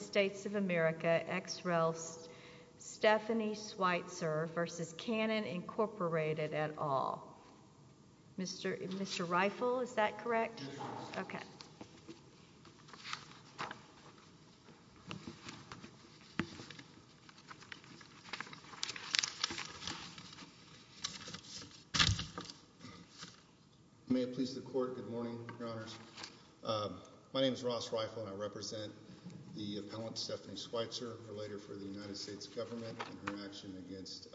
States of America, X-REL, Stephanie Schweitzer v. Canon, Inc. et al. Mr. Reifel, is that correct? Yes. Okay. May it please the Court, good morning, Your Honors. My name is Ross Reifel, and I represent the appellant, Stephanie Schweitzer, a relator for the United States government in her action against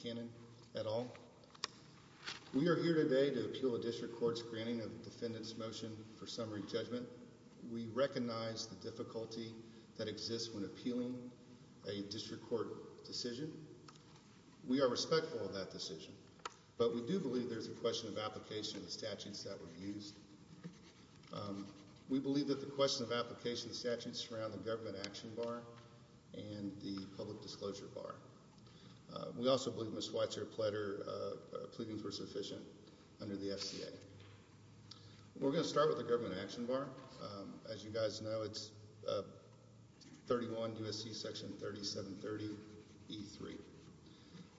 Canon et al. We are here today to appeal a district court's granting of the defendant's motion for summary judgment. We recognize the difficulty that exists when appealing a district court decision. We are respectful of that decision, but we do believe there's a question of application of the statutes that were used. We believe that the question of application of the statutes surround the Government Action Bar and the Public Disclosure Bar. We also believe Ms. Schweitzer pleaded for sufficient under the FCA. We're going to start with the Government Action Bar. As you guys know, it's 31 U.S.C. section 3730E3.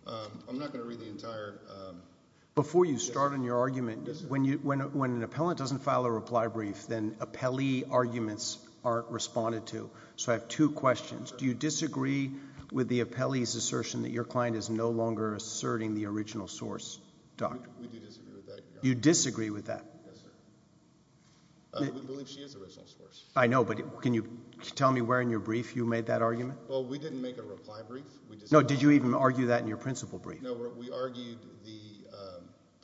I'm not going to read the entire— Before you start on your argument, when an appellant doesn't file a reply brief, then appellee arguments aren't responded to. So I have two questions. Do you disagree with the appellee's assertion that your client is no longer asserting the original source, Doctor? You disagree with that? I know, but can you tell me where in your brief you made that argument? We didn't make a reply brief. Did you even argue that in your principal brief? We argued the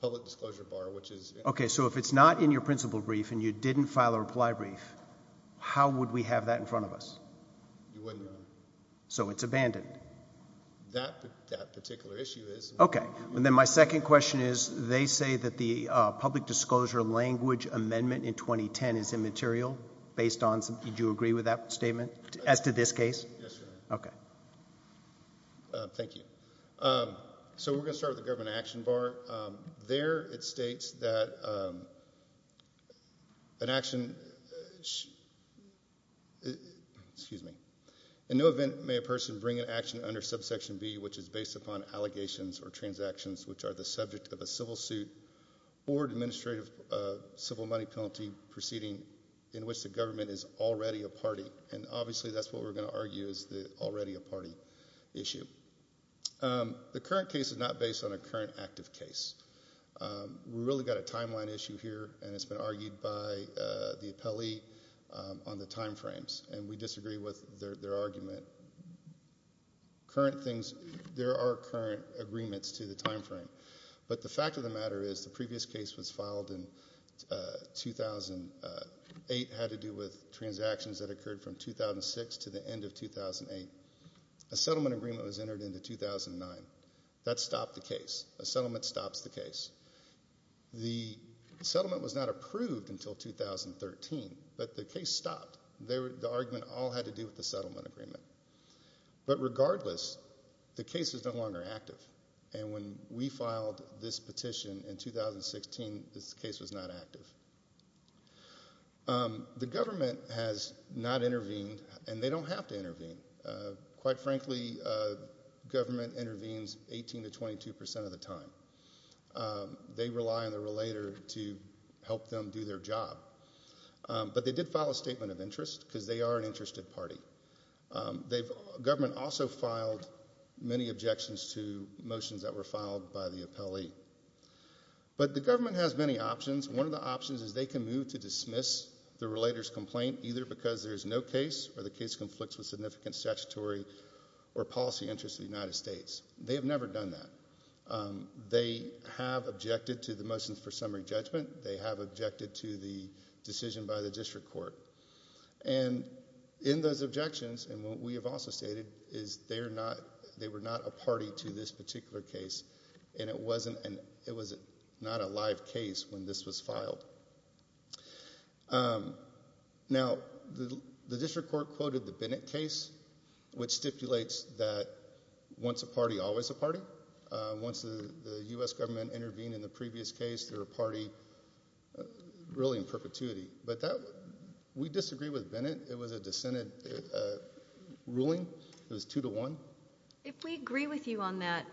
Public Disclosure Bar, which is— So if it's not in your principal brief and you didn't file a reply brief, how would we have that in front of us? So it's abandoned? That particular issue is— My second question is, they say that the Public Disclosure Language Amendment in 2010 is immaterial based on— Yes, sir. Okay. Thank you. So we're going to start with the Government Action Bar. There it states that an action—excuse me—in no event may a person bring an action under Subsection B which is based upon allegations or transactions which are the subject of a civil suit or administrative civil money penalty proceeding in which the government is already a party. And obviously that's what we're going to argue is already a party issue. The current case is not based on a current active case. We really got a timeline issue here and it's been argued by the appellee on the time frames and we disagree with their argument. Current things—there are current agreements to the time frame, but the fact of the matter is the previous case was filed in 2008, had to do with transactions that occurred from 2006 to the end of 2008. A settlement agreement was entered into 2009. That stopped the case. A settlement stops the case. The settlement was not approved until 2013, but the case stopped. The argument all had to do with the settlement agreement. But regardless, the case is no longer active and when we filed this petition in 2016, this case was not active. The government has not intervened and they don't have to intervene. Quite frankly, government intervenes 18 to 22 percent of the time. They rely on the relator to help them do their job, but they did file a statement of interest because they are an interested party. Government also filed many objections to motions that were filed by the appellee. But the government has many options. One of the options is they can move to dismiss the relator's complaint either because there is no case or the case conflicts with significant statutory or policy interests of the United States. They have never done that. They have objected to the motions for summary judgment. They have objected to the decision by the district court. In those objections, and what we have also stated, is they were not a party to this particular case and it was not a live case when this was filed. The district court quoted the Bennett case, which stipulates that once a party, always a party. Once the U.S. government intervened in the previous case, they're a party really in perpetuity. But that, we disagree with Bennett. It was a dissented ruling, it was two to one. If we agree with you on that,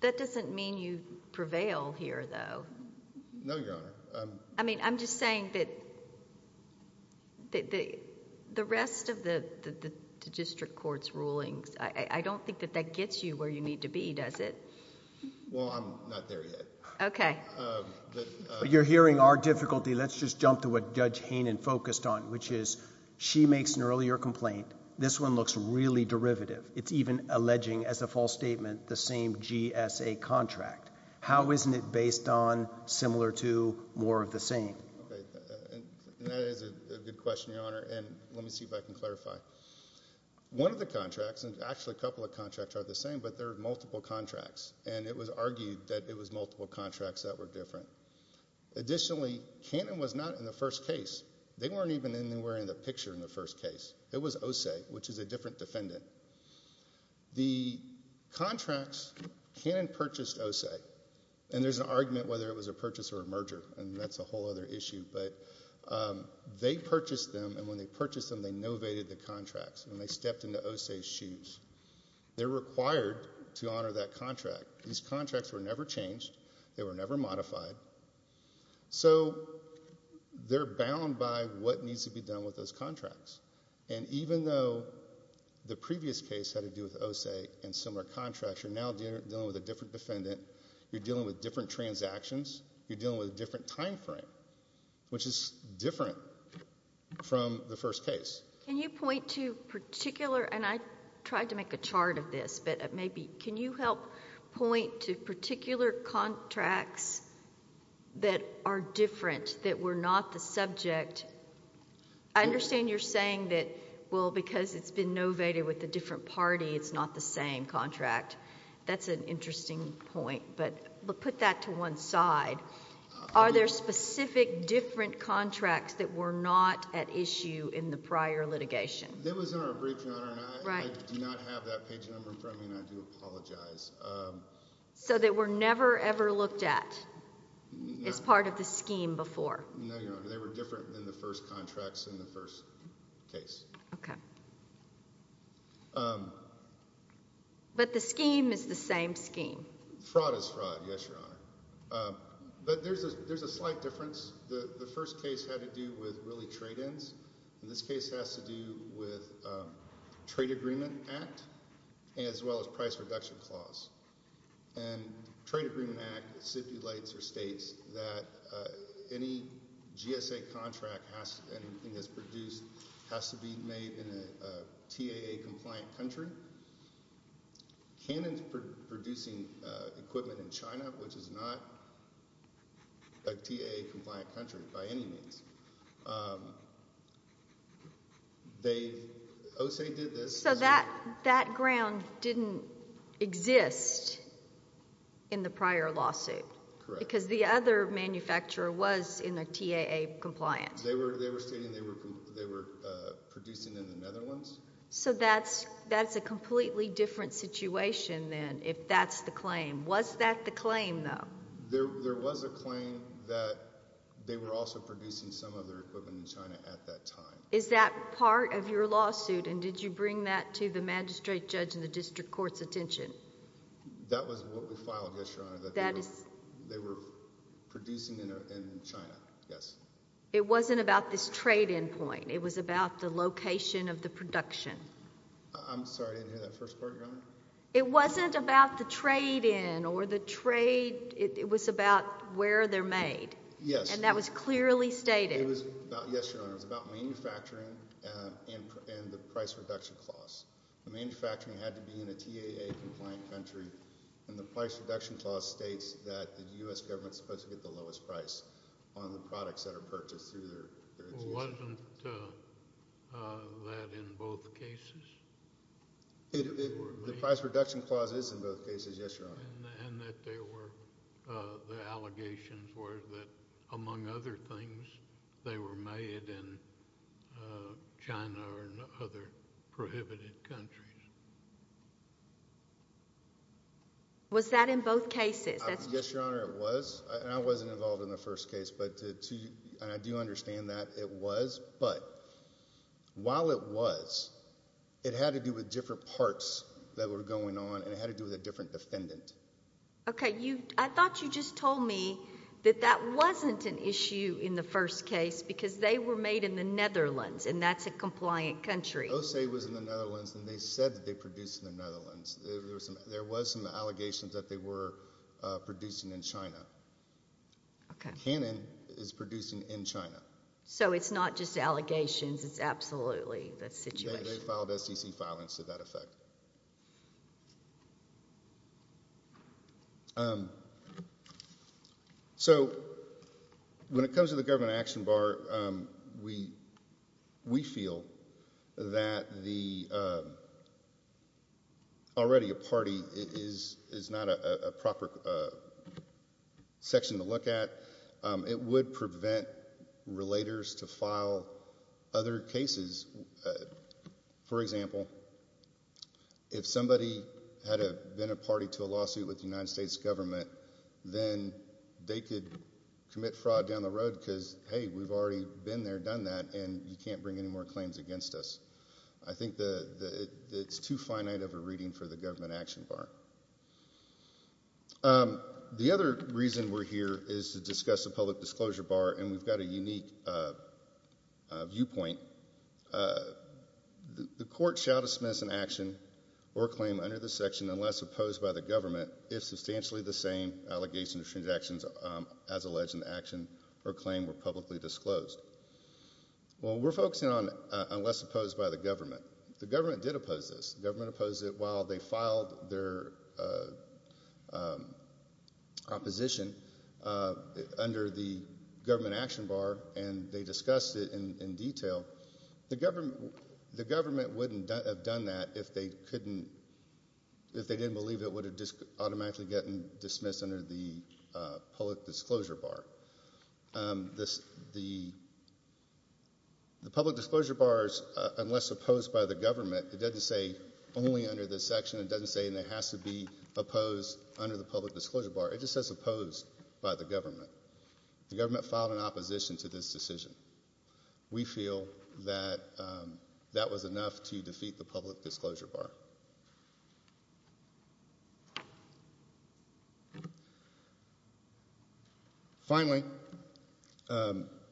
that doesn't mean you prevail here though. No, Your Honor. I mean, I'm just saying that the rest of the district court's rulings, I don't think that gets you where you need to be, does it? Well, I'm not there yet. Okay. But you're hearing our difficulty. Let's just jump to what Judge Hainan focused on, which is she makes an earlier complaint. This one looks really derivative. It's even alleging as a false statement the same GSA contract. How isn't it based on similar to more of the same? Okay, and that is a good question, Your Honor, and let me see if I can clarify. One of the contracts, and actually a couple of contracts are the same, but they're multiple contracts, and it was argued that it was multiple contracts that were different. Additionally, Hainan was not in the first case. They weren't even anywhere in the picture in the first case. It was OSE, which is a different defendant. The contracts, Hainan purchased OSE, and there's an argument whether it was a purchase or a merger, and that's a whole other issue. But they purchased them, and when they purchased them, they novated the contracts, and they stepped into OSE's shoes. They're required to honor that contract. These contracts were never changed. They were never modified. So they're bound by what needs to be done with those contracts, and even though the previous case had to do with OSE and similar contracts, you're now dealing with a different defendant. You're dealing with different transactions. You're dealing with a different time frame, which is different from the first case. Can you point to particular, and I tried to make a chart of this, but maybe, can you help point to particular contracts that are different, that were not the subject? I understand you're saying that, well, because it's been novated with a different party, it's not the same contract. That's an interesting point, but put that to one side. Are there specific, different contracts that were not at issue in the prior litigation? That was in our brief, Your Honor, and I do not have that page number in front of me, and I do apologize. So they were never, ever looked at as part of the scheme before? No, Your Honor. They were different than the first contracts in the first case. Okay. But the scheme is the same scheme? Fraud is fraud, yes, Your Honor. But there's a slight difference. The first case had to do with, really, trade-ins. This case has to do with Trade Agreement Act, as well as Price Reduction Clause. And Trade Agreement Act stipulates or states that any GSA contract has, anything that's produced has to be made in a TAA-compliant country. Canon's producing equipment in China, which is not a TAA-compliant country by any means. They, OSE did this. So that ground didn't exist in the prior lawsuit? Correct. Because the other manufacturer was in a TAA-compliant. They were stating they were producing in the Netherlands. So that's a completely different situation, then, if that's the claim. Was that the claim, though? There was a claim that they were also producing some of their equipment in China at that time. Is that part of your lawsuit? And did you bring that to the magistrate judge and the district court's attention? That was what we filed, yes, Your Honor, that they were producing in China, yes. It wasn't about this trade-in point. It was about the location of the production. I'm sorry, I didn't hear that first part, Your Honor. It wasn't about the trade-in or the trade, it was about where they're made. Yes. And that was clearly stated. It was about, yes, Your Honor, it was about manufacturing and the price reduction clause. The manufacturing had to be in a TAA-compliant country, and the price reduction clause states that the U.S. government's supposed to get the lowest price on the products that are purchased through their institution. Well, wasn't that in both cases? The price reduction clause is in both cases, yes, Your Honor. And that they were, the allegations were that, among other things, they were made in China or in other prohibited countries. Was that in both cases? Yes, Your Honor, it was. And I wasn't involved in the first case, but to, and I do understand that it was, but while it was, it had to do with different parts that were going on, and it had to do with a different defendant. Okay, you, I thought you just told me that that wasn't an issue in the first case because they were made in the Netherlands, and that's a compliant country. OSE was in the Netherlands, and they said that they produced in the Netherlands. There was some, there was some allegations that they were producing in China. Okay. Canon is producing in China. So it's not just allegations, it's absolutely the situation. They filed SEC filings to that effect. So when it comes to the government action bar, we, we feel that the, already a party is, is not a proper section to look at. It would prevent relators to file other cases. For example, if somebody had been a party to a lawsuit with the United States government, then they could commit fraud down the road because, hey, we've already been there, done that, and you can't bring any more claims against us. I think the, it's too finite of a reading for the government action bar. The other reason we're here is to discuss the public disclosure bar, and we've got a unique viewpoint. The court shall dismiss an action or claim under this section unless opposed by the government if substantially the same allegations or transactions as alleged in the action or claim were publicly disclosed. Well, we're focusing on unless opposed by the government. The government did oppose this. The government opposed it while they filed their opposition under the government action bar, and they discussed it in, in detail. The government, the government wouldn't have done that if they couldn't, if they didn't believe it would have automatically gotten dismissed under the public disclosure bar. This, the, the public disclosure bars, unless opposed by the government, it doesn't say only under this section. It doesn't say it has to be opposed under the public disclosure bar. It just says opposed by the government. The government filed an opposition to this decision. We feel that, that was enough to defeat the public disclosure bar. Finally,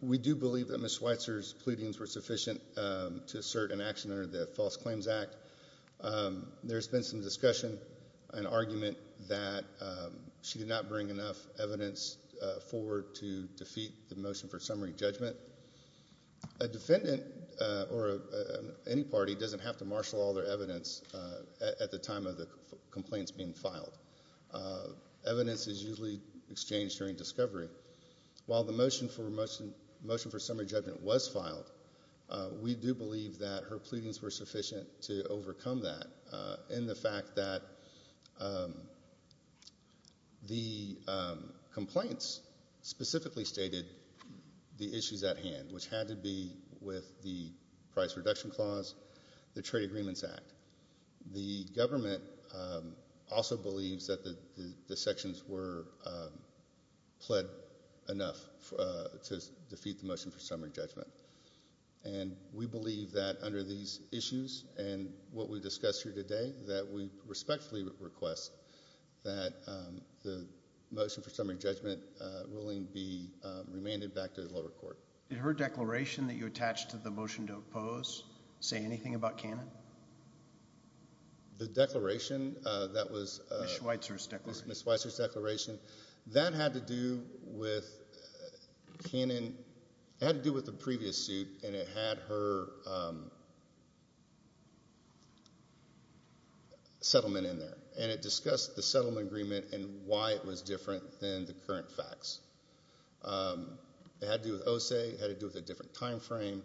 we do believe that Ms. Schweitzer's pleadings were sufficient to assert an action under the False Claims Act. There's been some discussion and argument that she did not bring enough evidence forward to defeat the motion for summary judgment. A defendant or any party doesn't have to marshal all their evidence at the time of the complaints being filed. Evidence is usually exchanged during discovery. While the motion for motion, motion for summary judgment was filed, we do believe that her pleadings were sufficient to overcome that in the fact that the complaints specifically stated the issues at hand, which had to be with the price reduction clause, the Trade Agreements Act. The government also believes that the sections were pled enough to defeat the motion for summary judgment. And we believe that under these issues and what we discussed here today that we respectfully request that the motion for summary judgment willing be remanded back to the lower court. Did her declaration that you attached to the motion to oppose say anything about canon? The declaration that was Ms. Schweitzer's declaration, that had to do with canon, it had to do with the previous suit and it had her settlement in there. And it discussed the settlement agreement and why it was different than the current facts. It had to do with OSE, it had to do with a different time frame.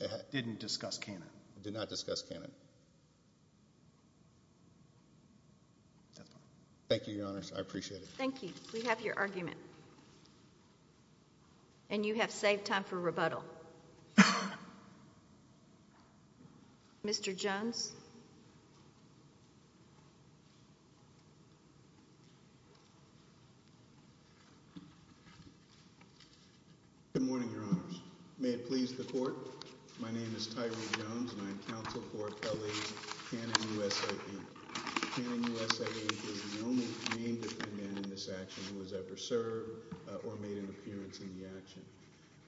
It didn't discuss canon. It did not discuss canon. Thank you, Your Honors. I appreciate it. Thank you. We have your argument. And you have saved time for rebuttal. Mr. Jones? Good morning, Your Honors. May it please the court. My name is Tyree Jones and I'm counsel for LA's Canon USAID. Canon USAID is the only named defendant in this action who has ever served or made an appearance in the action.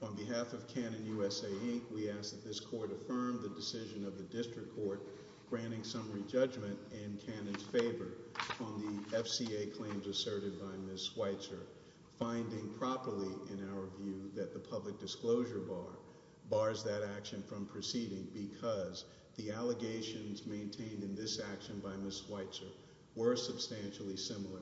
On behalf of Canon USAID, we ask that this court affirm the decision of the district court granting summary judgment in Canon's favor on the FCA claims asserted by Ms. Schweitzer. Finding properly in our view that the public disclosure bar bars that action from proceeding because the allegations maintained in this action by Ms. Schweitzer were substantially similar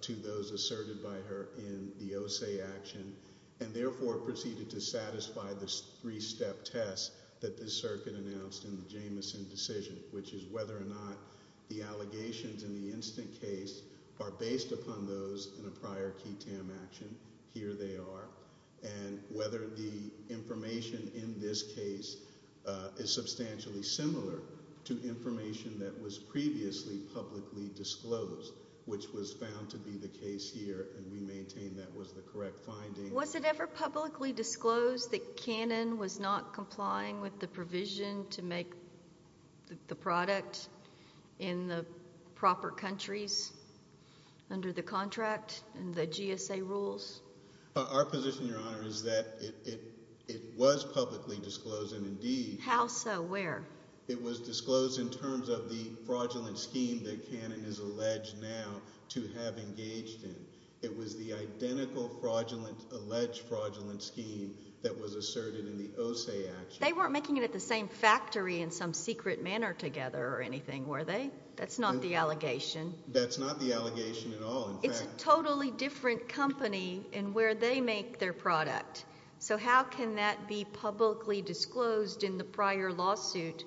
to those asserted by her in the OSE action. And therefore proceeded to satisfy the three-step test that the circuit announced in the Jamison decision, which is whether or not the allegations in the instant case are based upon those in a prior key tam action, here they are. And whether the information in this case is substantially similar to information that was previously publicly disclosed, which was found to be the case here and we maintain that was the correct finding. Was it ever publicly disclosed that Canon was not complying with the provision to make the product in the proper countries under the contract and the GSA rules? Our position, Your Honor, is that it was publicly disclosed and indeed. How so? Where? It was disclosed in terms of the fraudulent scheme that Canon is alleged now to have engaged in. It was the identical fraudulent, alleged fraudulent scheme that was asserted in the OSE action. They weren't making it at the same factory in some secret manner together or anything, were they? That's not the allegation. That's not the allegation at all. In fact. It's a totally different company in where they make their product. So how can that be publicly disclosed in the prior lawsuit?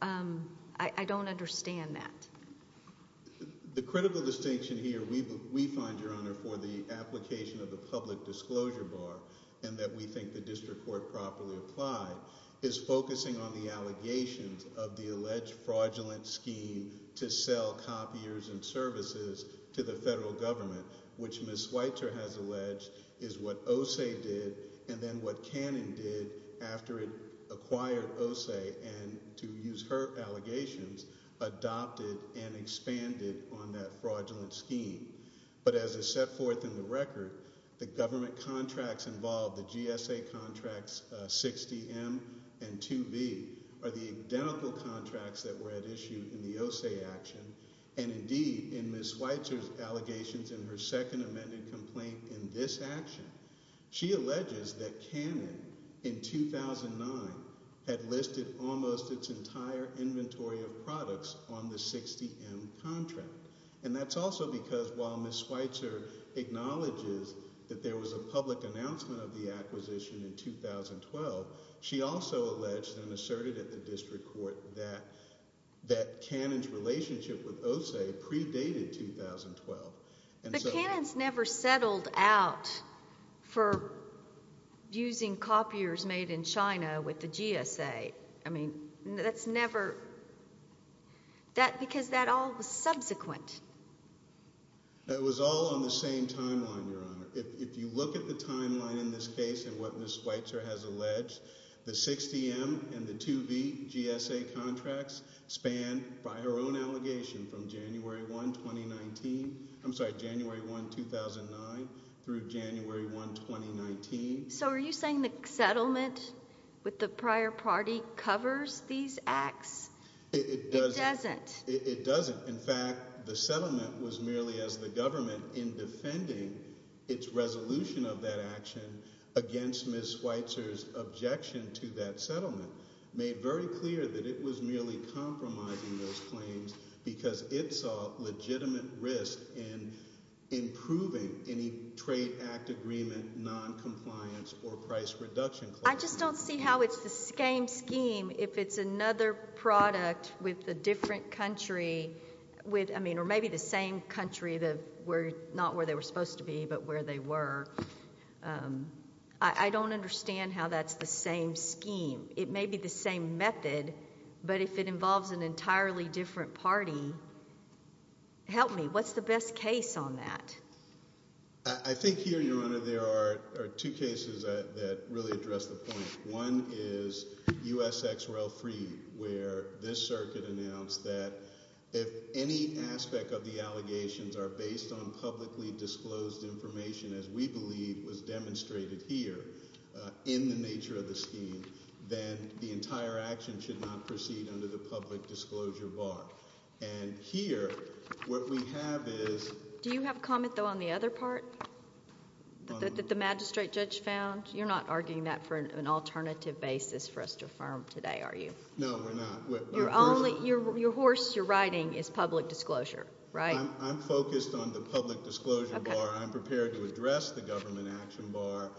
I don't understand that. The critical distinction here we find, Your Honor, for the application of the public disclosure bar and that we think the district court properly applied is focusing on the allegations of the alleged fraudulent scheme to sell copiers and services to the federal government, which Ms. Schweitzer has alleged is what OSE did and then what Canon did after it acquired OSE and to use her allegations, adopted and expanded on that fraudulent scheme. But as is set forth in the record, the government contracts involved, the GSA contracts 60M and 2B are the identical contracts that were at issue in the OSE action. And indeed, in Ms. Schweitzer's allegations in her second amended complaint in this action, she alleges that Canon in 2009 had listed almost its entire inventory of products on the 60M contract. And that's also because while Ms. Schweitzer acknowledges that there was a public announcement of the acquisition in 2012, she also alleged and asserted at the district court that Canon's relationship with OSE predated 2012. And so. But Canon's never settled out for using copiers made in China with the GSA. I mean, that's never. That, because that all was subsequent. It was all on the same timeline, Your Honor. If you look at the timeline in this case and what Ms. Schweitzer has alleged, the 60M and the 2B GSA contracts span by her own allegation from January 1, 2019. I'm sorry, January 1, 2009 through January 1, 2019. So are you saying the settlement with the prior party covers these acts? It doesn't. It doesn't. In fact, the settlement was merely as the government in defending its resolution of that action against Ms. Schweitzer's objection to that settlement made very clear that it was merely compromising those claims because it saw legitimate risk in improving any trade act agreement, noncompliance, or price reduction. I just don't see how it's the same scheme if it's another product with a different country with, I mean, or maybe the same country that were not where they were supposed to be but where they were. I don't understand how that's the same scheme. It may be the same method, but if it involves an entirely different party, help me, what's the best case on that? I think here, Your Honor, there are two cases that really address the point. One is USXRailFree where this circuit announced that if any aspect of the allegations are based on publicly disclosed information as we believe was demonstrated here in the nature of the scheme, then the entire action should not proceed under the public disclosure bar. And here, what we have is- Do you have a comment, though, on the other part that the magistrate judge found? You're not arguing that for an alternative basis for us to affirm today, are you? No, we're not. Your horse, your riding, is public disclosure, right? I'm focused on the public disclosure bar. I'm prepared to address the government action bar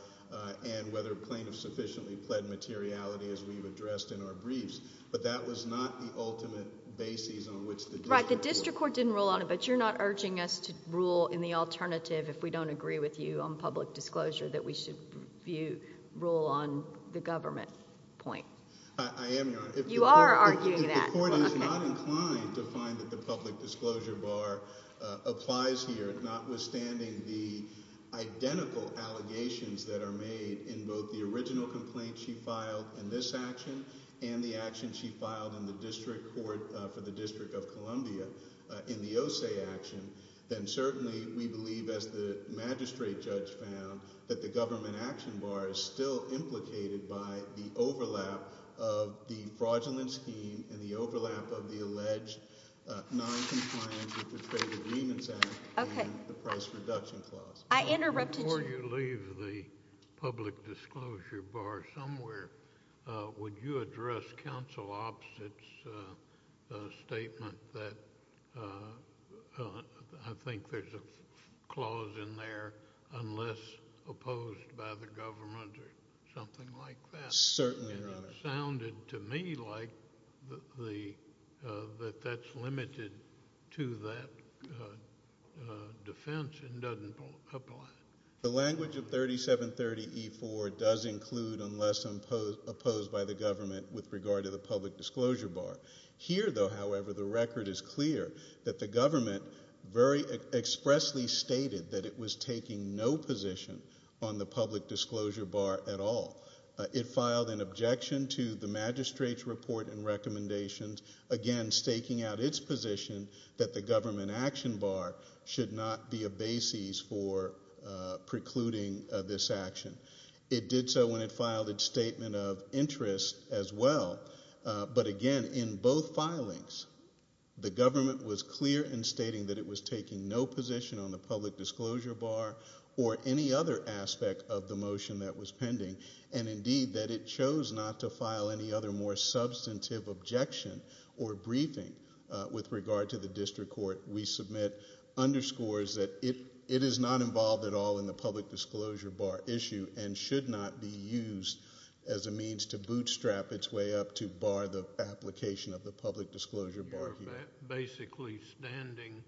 and whether plaintiffs sufficiently pled materiality as we've addressed in our briefs. But that was not the ultimate basis on which the district court- Right, the district court didn't rule on it, but you're not urging us to rule in the alternative if we don't agree with you on public disclosure that we should rule on the government point. I am, Your Honor. You are arguing that. If the court is not inclined to find that the public disclosure bar applies here, notwithstanding the identical allegations that are made in both the original complaint she filed in this action and the action she filed in the district court for the District of Columbia in the OSE action, then certainly we believe, as the magistrate judge found, that the government action bar is still implicated by the overlap of the fraudulent scheme and the overlap of the alleged noncompliance with the Trade Agreements Act and the price reduction clause. I interrupted you. Before you leave the public disclosure bar somewhere, would you address counsel Opstett's statement that I think there's a clause in there unless opposed by the government or something like that? Certainly, Your Honor. And it sounded to me like that that's limited to that defense and doesn't apply. The language of 3730E4 does include unless opposed by the government with regard to the public disclosure bar. Here, though, however, the record is clear that the government very expressly stated that it was taking no position on the public disclosure bar at all. It filed an objection to the magistrate's report and recommendations, again, staking out its position that the government action bar should not be a basis for precluding this action. It did so when it filed its statement of interest as well. But again, in both filings, the government was clear in stating that it was taking no position on the public disclosure bar or any other aspect of the motion that was pending, and indeed that it chose not to file any other more substantive objection or briefing with regard to the district court. We submit underscores that it is not involved at all in the public disclosure bar issue and should not be used as a means to bootstrap its way up to bar the application of the public disclosure bar here. Basically standing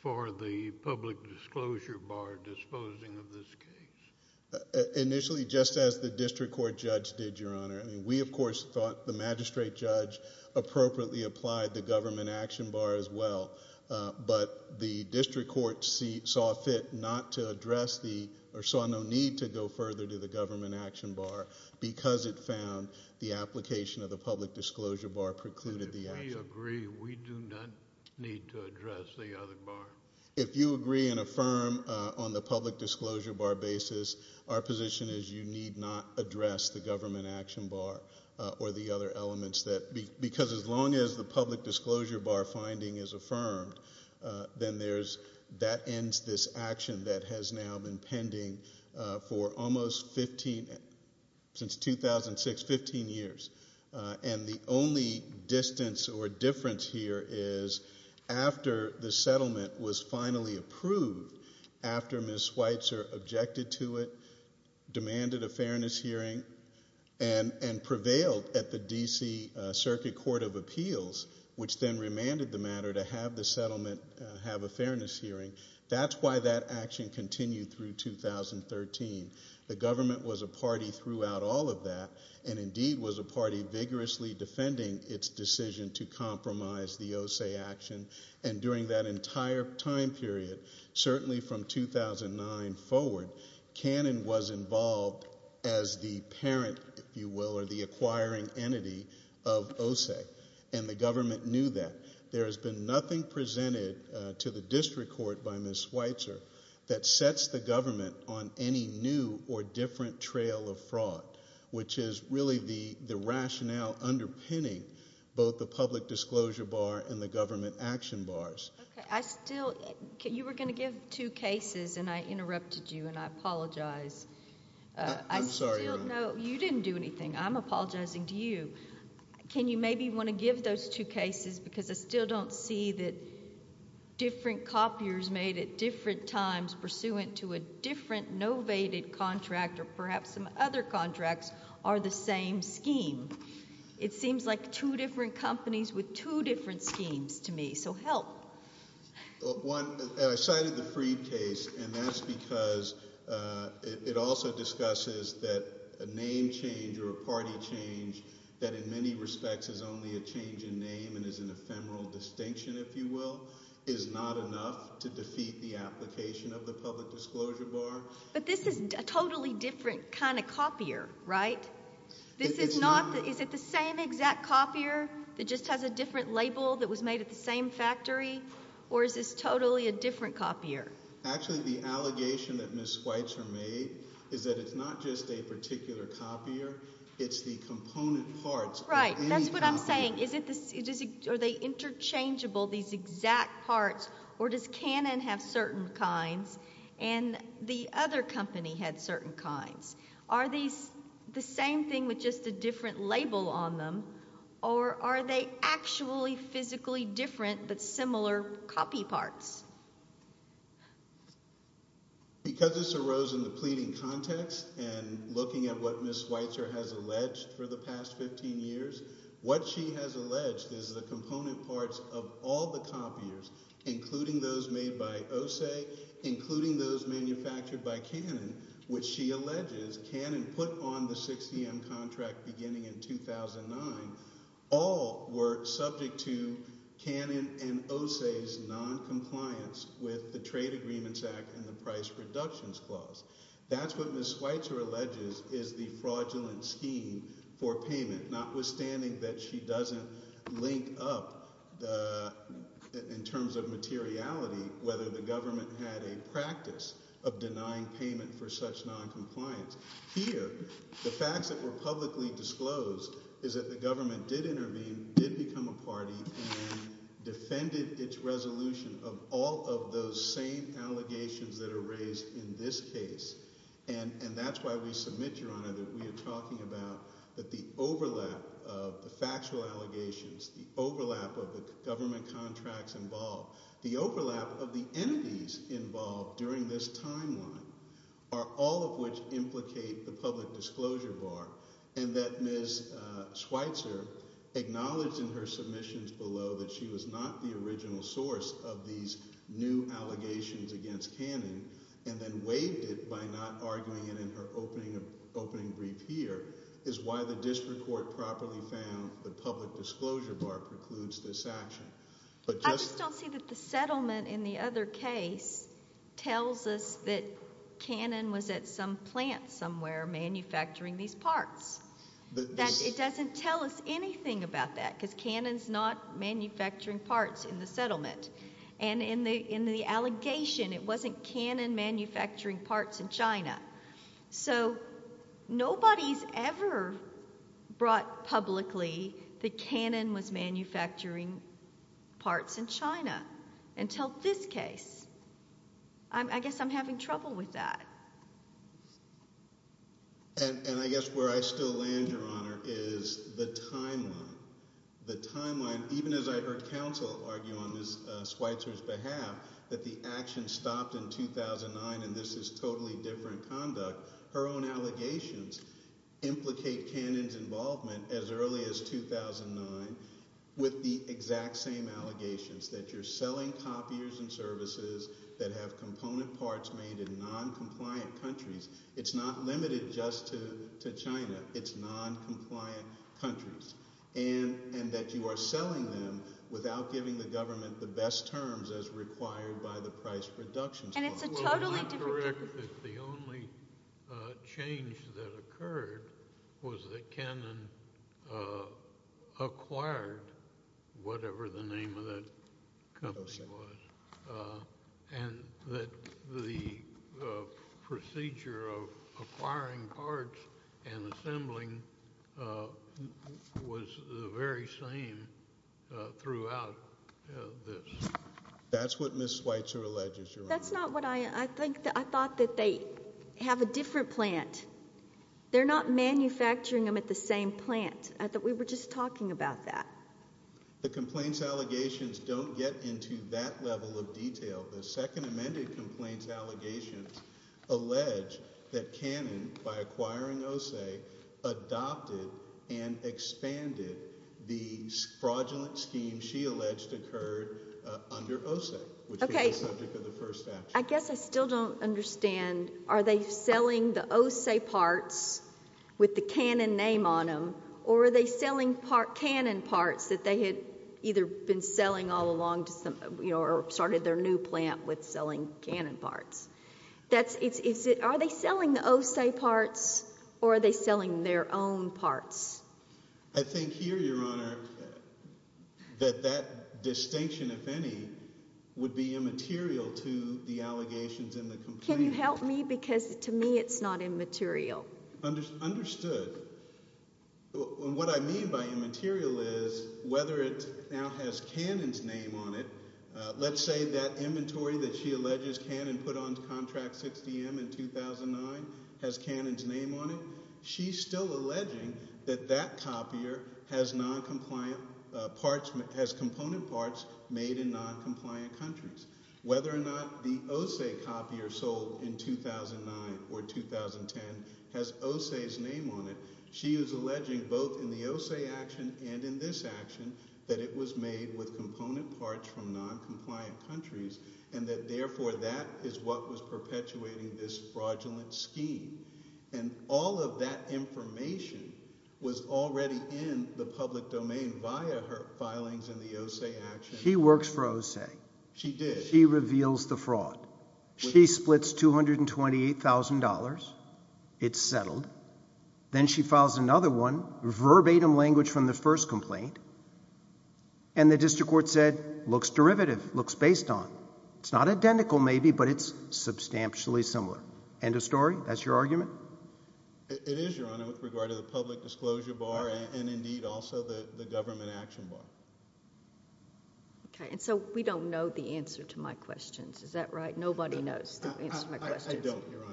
for the public disclosure bar disposing of this case. Initially, just as the district court judge did, Your Honor, I mean, we, of course, thought the magistrate judge appropriately applied the government action bar as well, but the district court saw fit not to address the... or saw no need to go further to the government action bar because it found the application of the public disclosure bar precluded the action. And if we agree, we do not need to address the other bar? If you agree and affirm on the public disclosure bar basis, our position is you need not address the government action bar or the other elements that... because as long as the public disclosure bar finding is affirmed, then there's... that ends this action that has now been pending for almost 15... since 2006, 15 years. And the only distance or difference here is after the settlement was finally approved, after Ms. Schweitzer objected to it, demanded a fairness hearing, and prevailed at the D.C. Circuit Court of Appeals, which then remanded the matter to have the settlement have a fairness hearing, that's why that action continued through 2013. The government was a party throughout all of that and indeed was a party vigorously defending its decision to compromise the OSE action. And during that entire time period, certainly from 2009 forward, Cannon was involved as the parent, if you will, or the acquiring entity of OSE. And the government knew that. There has been nothing presented to the district court by Ms. Schweitzer that sets the government on any new or different trail of fraud, which is really the rationale underpinning both the public disclosure bar and the government action bars. Okay, I still... you were going to give two cases and I interrupted you and I apologize. I'm sorry. No, you didn't do anything. I'm apologizing to you. Can you maybe want to give those two cases because I still don't see that different copiers made at different times pursuant to a different novated contract or perhaps some other contracts are the same scheme. It seems like two different companies with two different schemes to me, so help. Well, one, I cited the Freed case and that's because it also discusses that a name change or a party change that in many respects is only a change in name and is an ephemeral distinction, if you will, is not enough to defeat the application of the public disclosure bar. But this is a totally different kind of copier, right? This is not... is it the same exact copier that just has a different label that was made at the same factory or is this totally a different copier? Actually, the allegation that Ms. Schweitzer made is that it's not just a particular copier, it's the component parts of any copier. Right, that's what I'm saying. Are they interchangeable, these exact parts, or does Canon have certain kinds? And the other company had certain kinds. Are these the same thing with just a different label on them or are they actually physically different but similar copy parts? Because this arose in the pleading context and looking at what Ms. Schweitzer has alleged for the past 15 years, what she has alleged is the component parts of all the copiers, including those made by OSE, including those manufactured by Canon, which she alleges Canon put on the 60M contract beginning in 2009, all were subject to Canon and OSE's noncompliance with the Trade Agreements Act and the Price Reductions Clause. That's what Ms. Schweitzer alleges is the fraudulent scheme for payment, notwithstanding that she doesn't link up in terms of materiality whether the government had a practice of denying payment for such noncompliance. Here, the facts that were publicly disclosed is that the government did intervene, did become a party, and defended its resolution of all of those same allegations that are raised in this case. And that's why we submit, Your Honor, that we are talking about that the overlap of the factual allegations, the overlap of the government contracts involved, the overlap of the entities involved during this timeline are all of which implicate the public disclosure bar and that Ms. Schweitzer acknowledged in her submissions below that she was not the original source of these new allegations against Canon and then waived it by not arguing it in her opening brief here is why the district court properly found the public disclosure bar precludes this action. I just don't see that the settlement in the other case tells us that Canon was at some plant somewhere manufacturing these parts. It doesn't tell us anything about that because Canon's not manufacturing parts in the settlement. And in the allegation, it wasn't Canon manufacturing parts in China. So nobody's ever brought publicly that Canon was manufacturing parts in China until this case. I guess I'm having trouble with that. And I guess where I still land, Your Honor, is the timeline. The timeline, even as I heard counsel argue on Ms. Schweitzer's behalf that the action stopped in 2009 and this is totally different conduct, her own allegations implicate Canon's involvement as early as 2009 with the exact same allegations, that you're selling copiers and services that have component parts made in noncompliant countries. It's not limited just to China. It's noncompliant countries. And that you are selling them without giving the government the best terms as required by the price reductions law. And it's a totally different thing. Well, you're correct that the only change that occurred was that Canon acquired whatever the name of that company was. And that the procedure of acquiring parts and assembling was the very same throughout this. That's what Ms. Schweitzer alleges, Your Honor. That's not what I think. I thought that they have a different plant. They're not manufacturing them at the same plant. We were just talking about that. The complaints allegations don't get into that level of detail. The second amended complaints allegations allege that Canon, by acquiring OSE, adopted and expanded the fraudulent scheme she alleged occurred under OSE, which became the subject of the first statute. I guess I still don't understand. Are they selling the OSE parts with the Canon name on them, or are they selling Canon parts that they had either been selling all along or started their new plant with selling Canon parts? Are they selling the OSE parts, or are they selling their own parts? I think here, Your Honor, that that distinction, if any, would be immaterial to the allegations in the complaint. Can you help me? Because to me it's not immaterial. Understood. What I mean by immaterial is whether it now has Canon's name on it. Let's say that inventory that she alleges Canon put on contract 6DM in 2009 has Canon's name on it. She's still alleging that that copier has component parts made in noncompliant countries. Whether or not the OSE copier sold in 2009 or 2010 has OSE's name on it. She is alleging both in the OSE action and in this action that it was made with component parts from noncompliant countries and that therefore that is what was perpetuating this fraudulent scheme. And all of that information was already in the public domain via her filings in the OSE action. She works for OSE. She did. She reveals the fraud. She splits $228,000. It's settled. Then she files another one, verbatim language from the first complaint, and the district court said, looks derivative, looks based on. It's not identical maybe, but it's substantially similar. End of story? That's your argument? It is, Your Honor, with regard to the public disclosure bar and indeed also the government action bar. Okay, and so we don't know the answer to my questions. Is that right? Nobody knows the answer to my questions. I don't, Your Honor.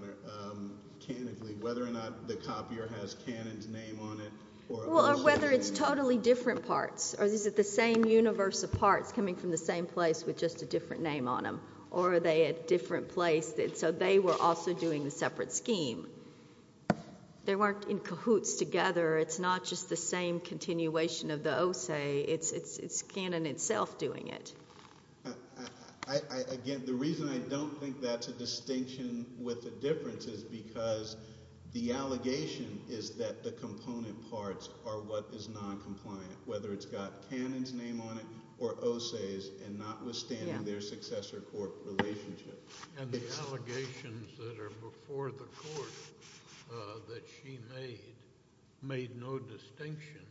Whether or not the copier has Cannon's name on it or OSE's name. Well, whether it's totally different parts or is it the same universe of parts coming from the same place with just a different name on them? Or are they a different place? So they were also doing the separate scheme. They weren't in cahoots together. It's not just the same continuation of the OSE. It's Cannon itself doing it. Again, the reason I don't think that's a distinction with the difference is because the allegation is that the component parts are what is noncompliant, whether it's got Cannon's name on it or OSE's and notwithstanding their successor court relationship. And the allegations that are before the court that she made made no distinction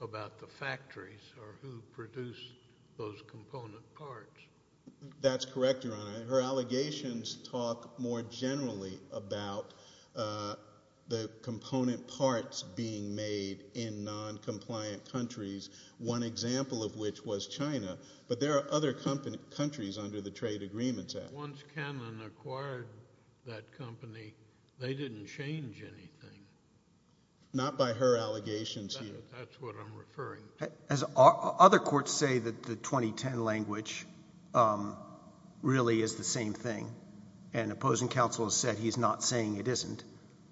about the factories or who produced those component parts. That's correct, Your Honor. Her allegations talk more generally about the component parts being made in noncompliant countries, one example of which was China. But there are other countries under the trade agreements. Once Cannon acquired that company, they didn't change anything. Not by her allegations here. That's what I'm referring to. Other courts say that the 2010 language really is the same thing, and opposing counsel has said he's not saying it isn't,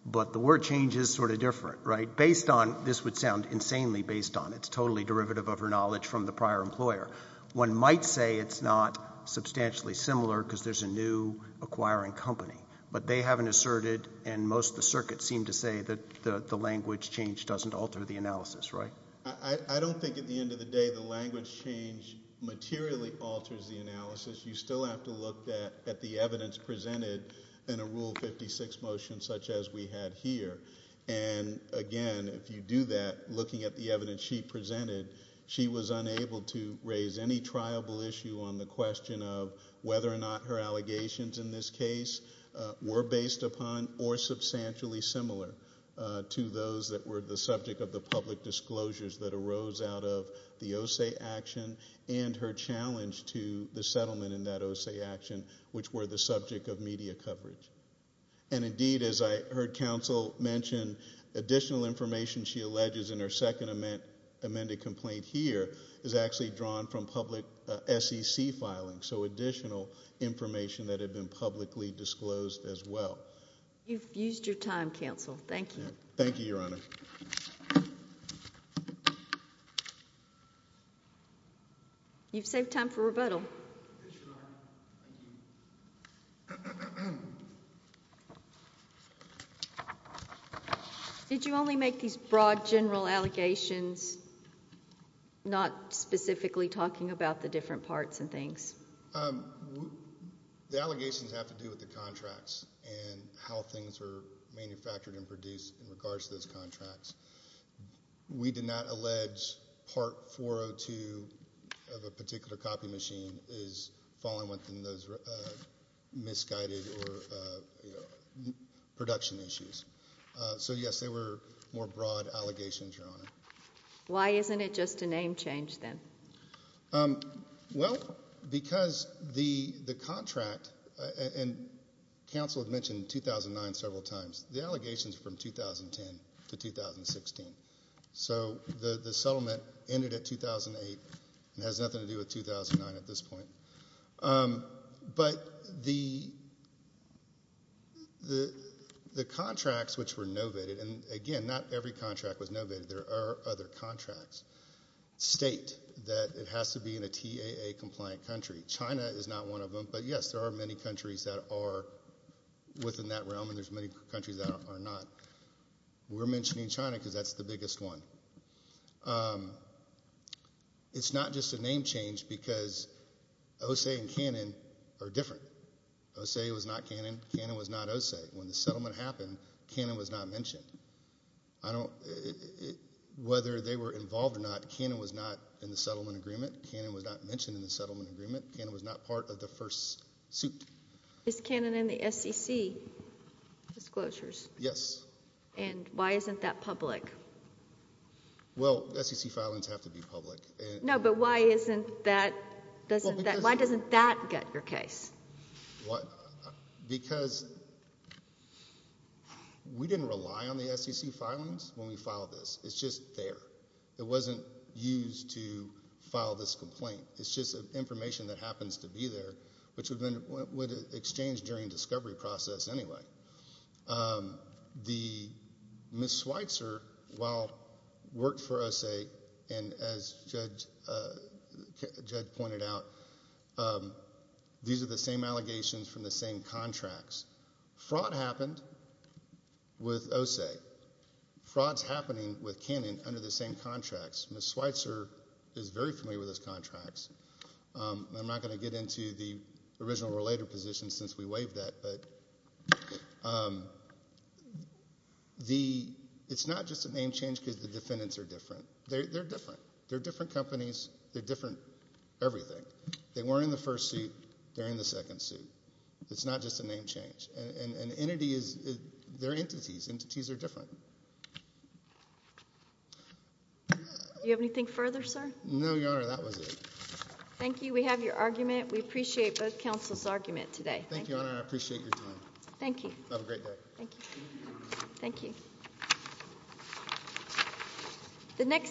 but the word change is sort of different, right? Based on this would sound insanely based on it. It's totally derivative of her knowledge from the prior employer. One might say it's not substantially similar because there's a new acquiring company, but they haven't asserted and most of the circuits seem to say that the language change doesn't alter the analysis, right? I don't think at the end of the day the language change materially alters the analysis. You still have to look at the evidence presented in a Rule 56 motion such as we had here. And, again, if you do that, looking at the evidence she presented, she was unable to raise any triable issue on the question of whether or not her allegations in this case were based upon or substantially similar to those that were the subject of the public disclosures that arose out of the OSEA action and her challenge to the settlement in that OSEA action, which were the subject of media coverage. And, indeed, as I heard counsel mention, additional information she alleges in her second amended complaint here is actually drawn from public SEC filing, so additional information that had been publicly disclosed as well. You've used your time, counsel. Thank you. Thank you, Your Honor. You've saved time for rebuttal. Yes, Your Honor. Thank you. Did you only make these broad general allegations, not specifically talking about the different parts and things? The allegations have to do with the contracts and how things are manufactured and produced in regards to those contracts. We did not allege part 402 of a particular copy machine is falling within those misguided or production issues. So, yes, they were more broad allegations, Your Honor. Why isn't it just a name change then? Well, because the contract, and counsel had mentioned 2009 several times, the allegations are from 2010 to 2016. So the settlement ended at 2008 and has nothing to do with 2009 at this point. But the contracts which were novated, and, again, not every contract was novated. There are other contracts. State that it has to be in a TAA-compliant country. China is not one of them. But, yes, there are many countries that are within that realm and there's many countries that are not. We're mentioning China because that's the biggest one. It's not just a name change because OSE and Canon are different. OSE was not Canon. Canon was not OSE. When the settlement happened, Canon was not mentioned. Whether they were involved or not, Canon was not in the settlement agreement. Canon was not mentioned in the settlement agreement. Canon was not part of the first suit. Is Canon in the SEC disclosures? Yes. And why isn't that public? Well, SEC filings have to be public. No, but why doesn't that get your case? Because we didn't rely on the SEC filings when we filed this. It's just there. It wasn't used to file this complaint. It's just information that happens to be there, which would have been exchanged during the discovery process anyway. Ms. Schweitzer, while she worked for OSE, and as Judge pointed out, these are the same allegations from the same contracts. Fraud happened with OSE. Fraud's happening with Canon under the same contracts. Ms. Schweitzer is very familiar with those contracts. I'm not going to get into the original or later position since we waived that. But it's not just a name change because the defendants are different. They're different. They're different companies. They're different everything. They weren't in the first suit. They're in the second suit. It's not just a name change. And their entities are different. Do you have anything further, sir? No, Your Honor. That was it. Thank you. We have your argument. We appreciate both counsel's argument today. Thank you, Your Honor. I appreciate your time. Thank you. Have a great day. Thank you, Your Honor. Thank you.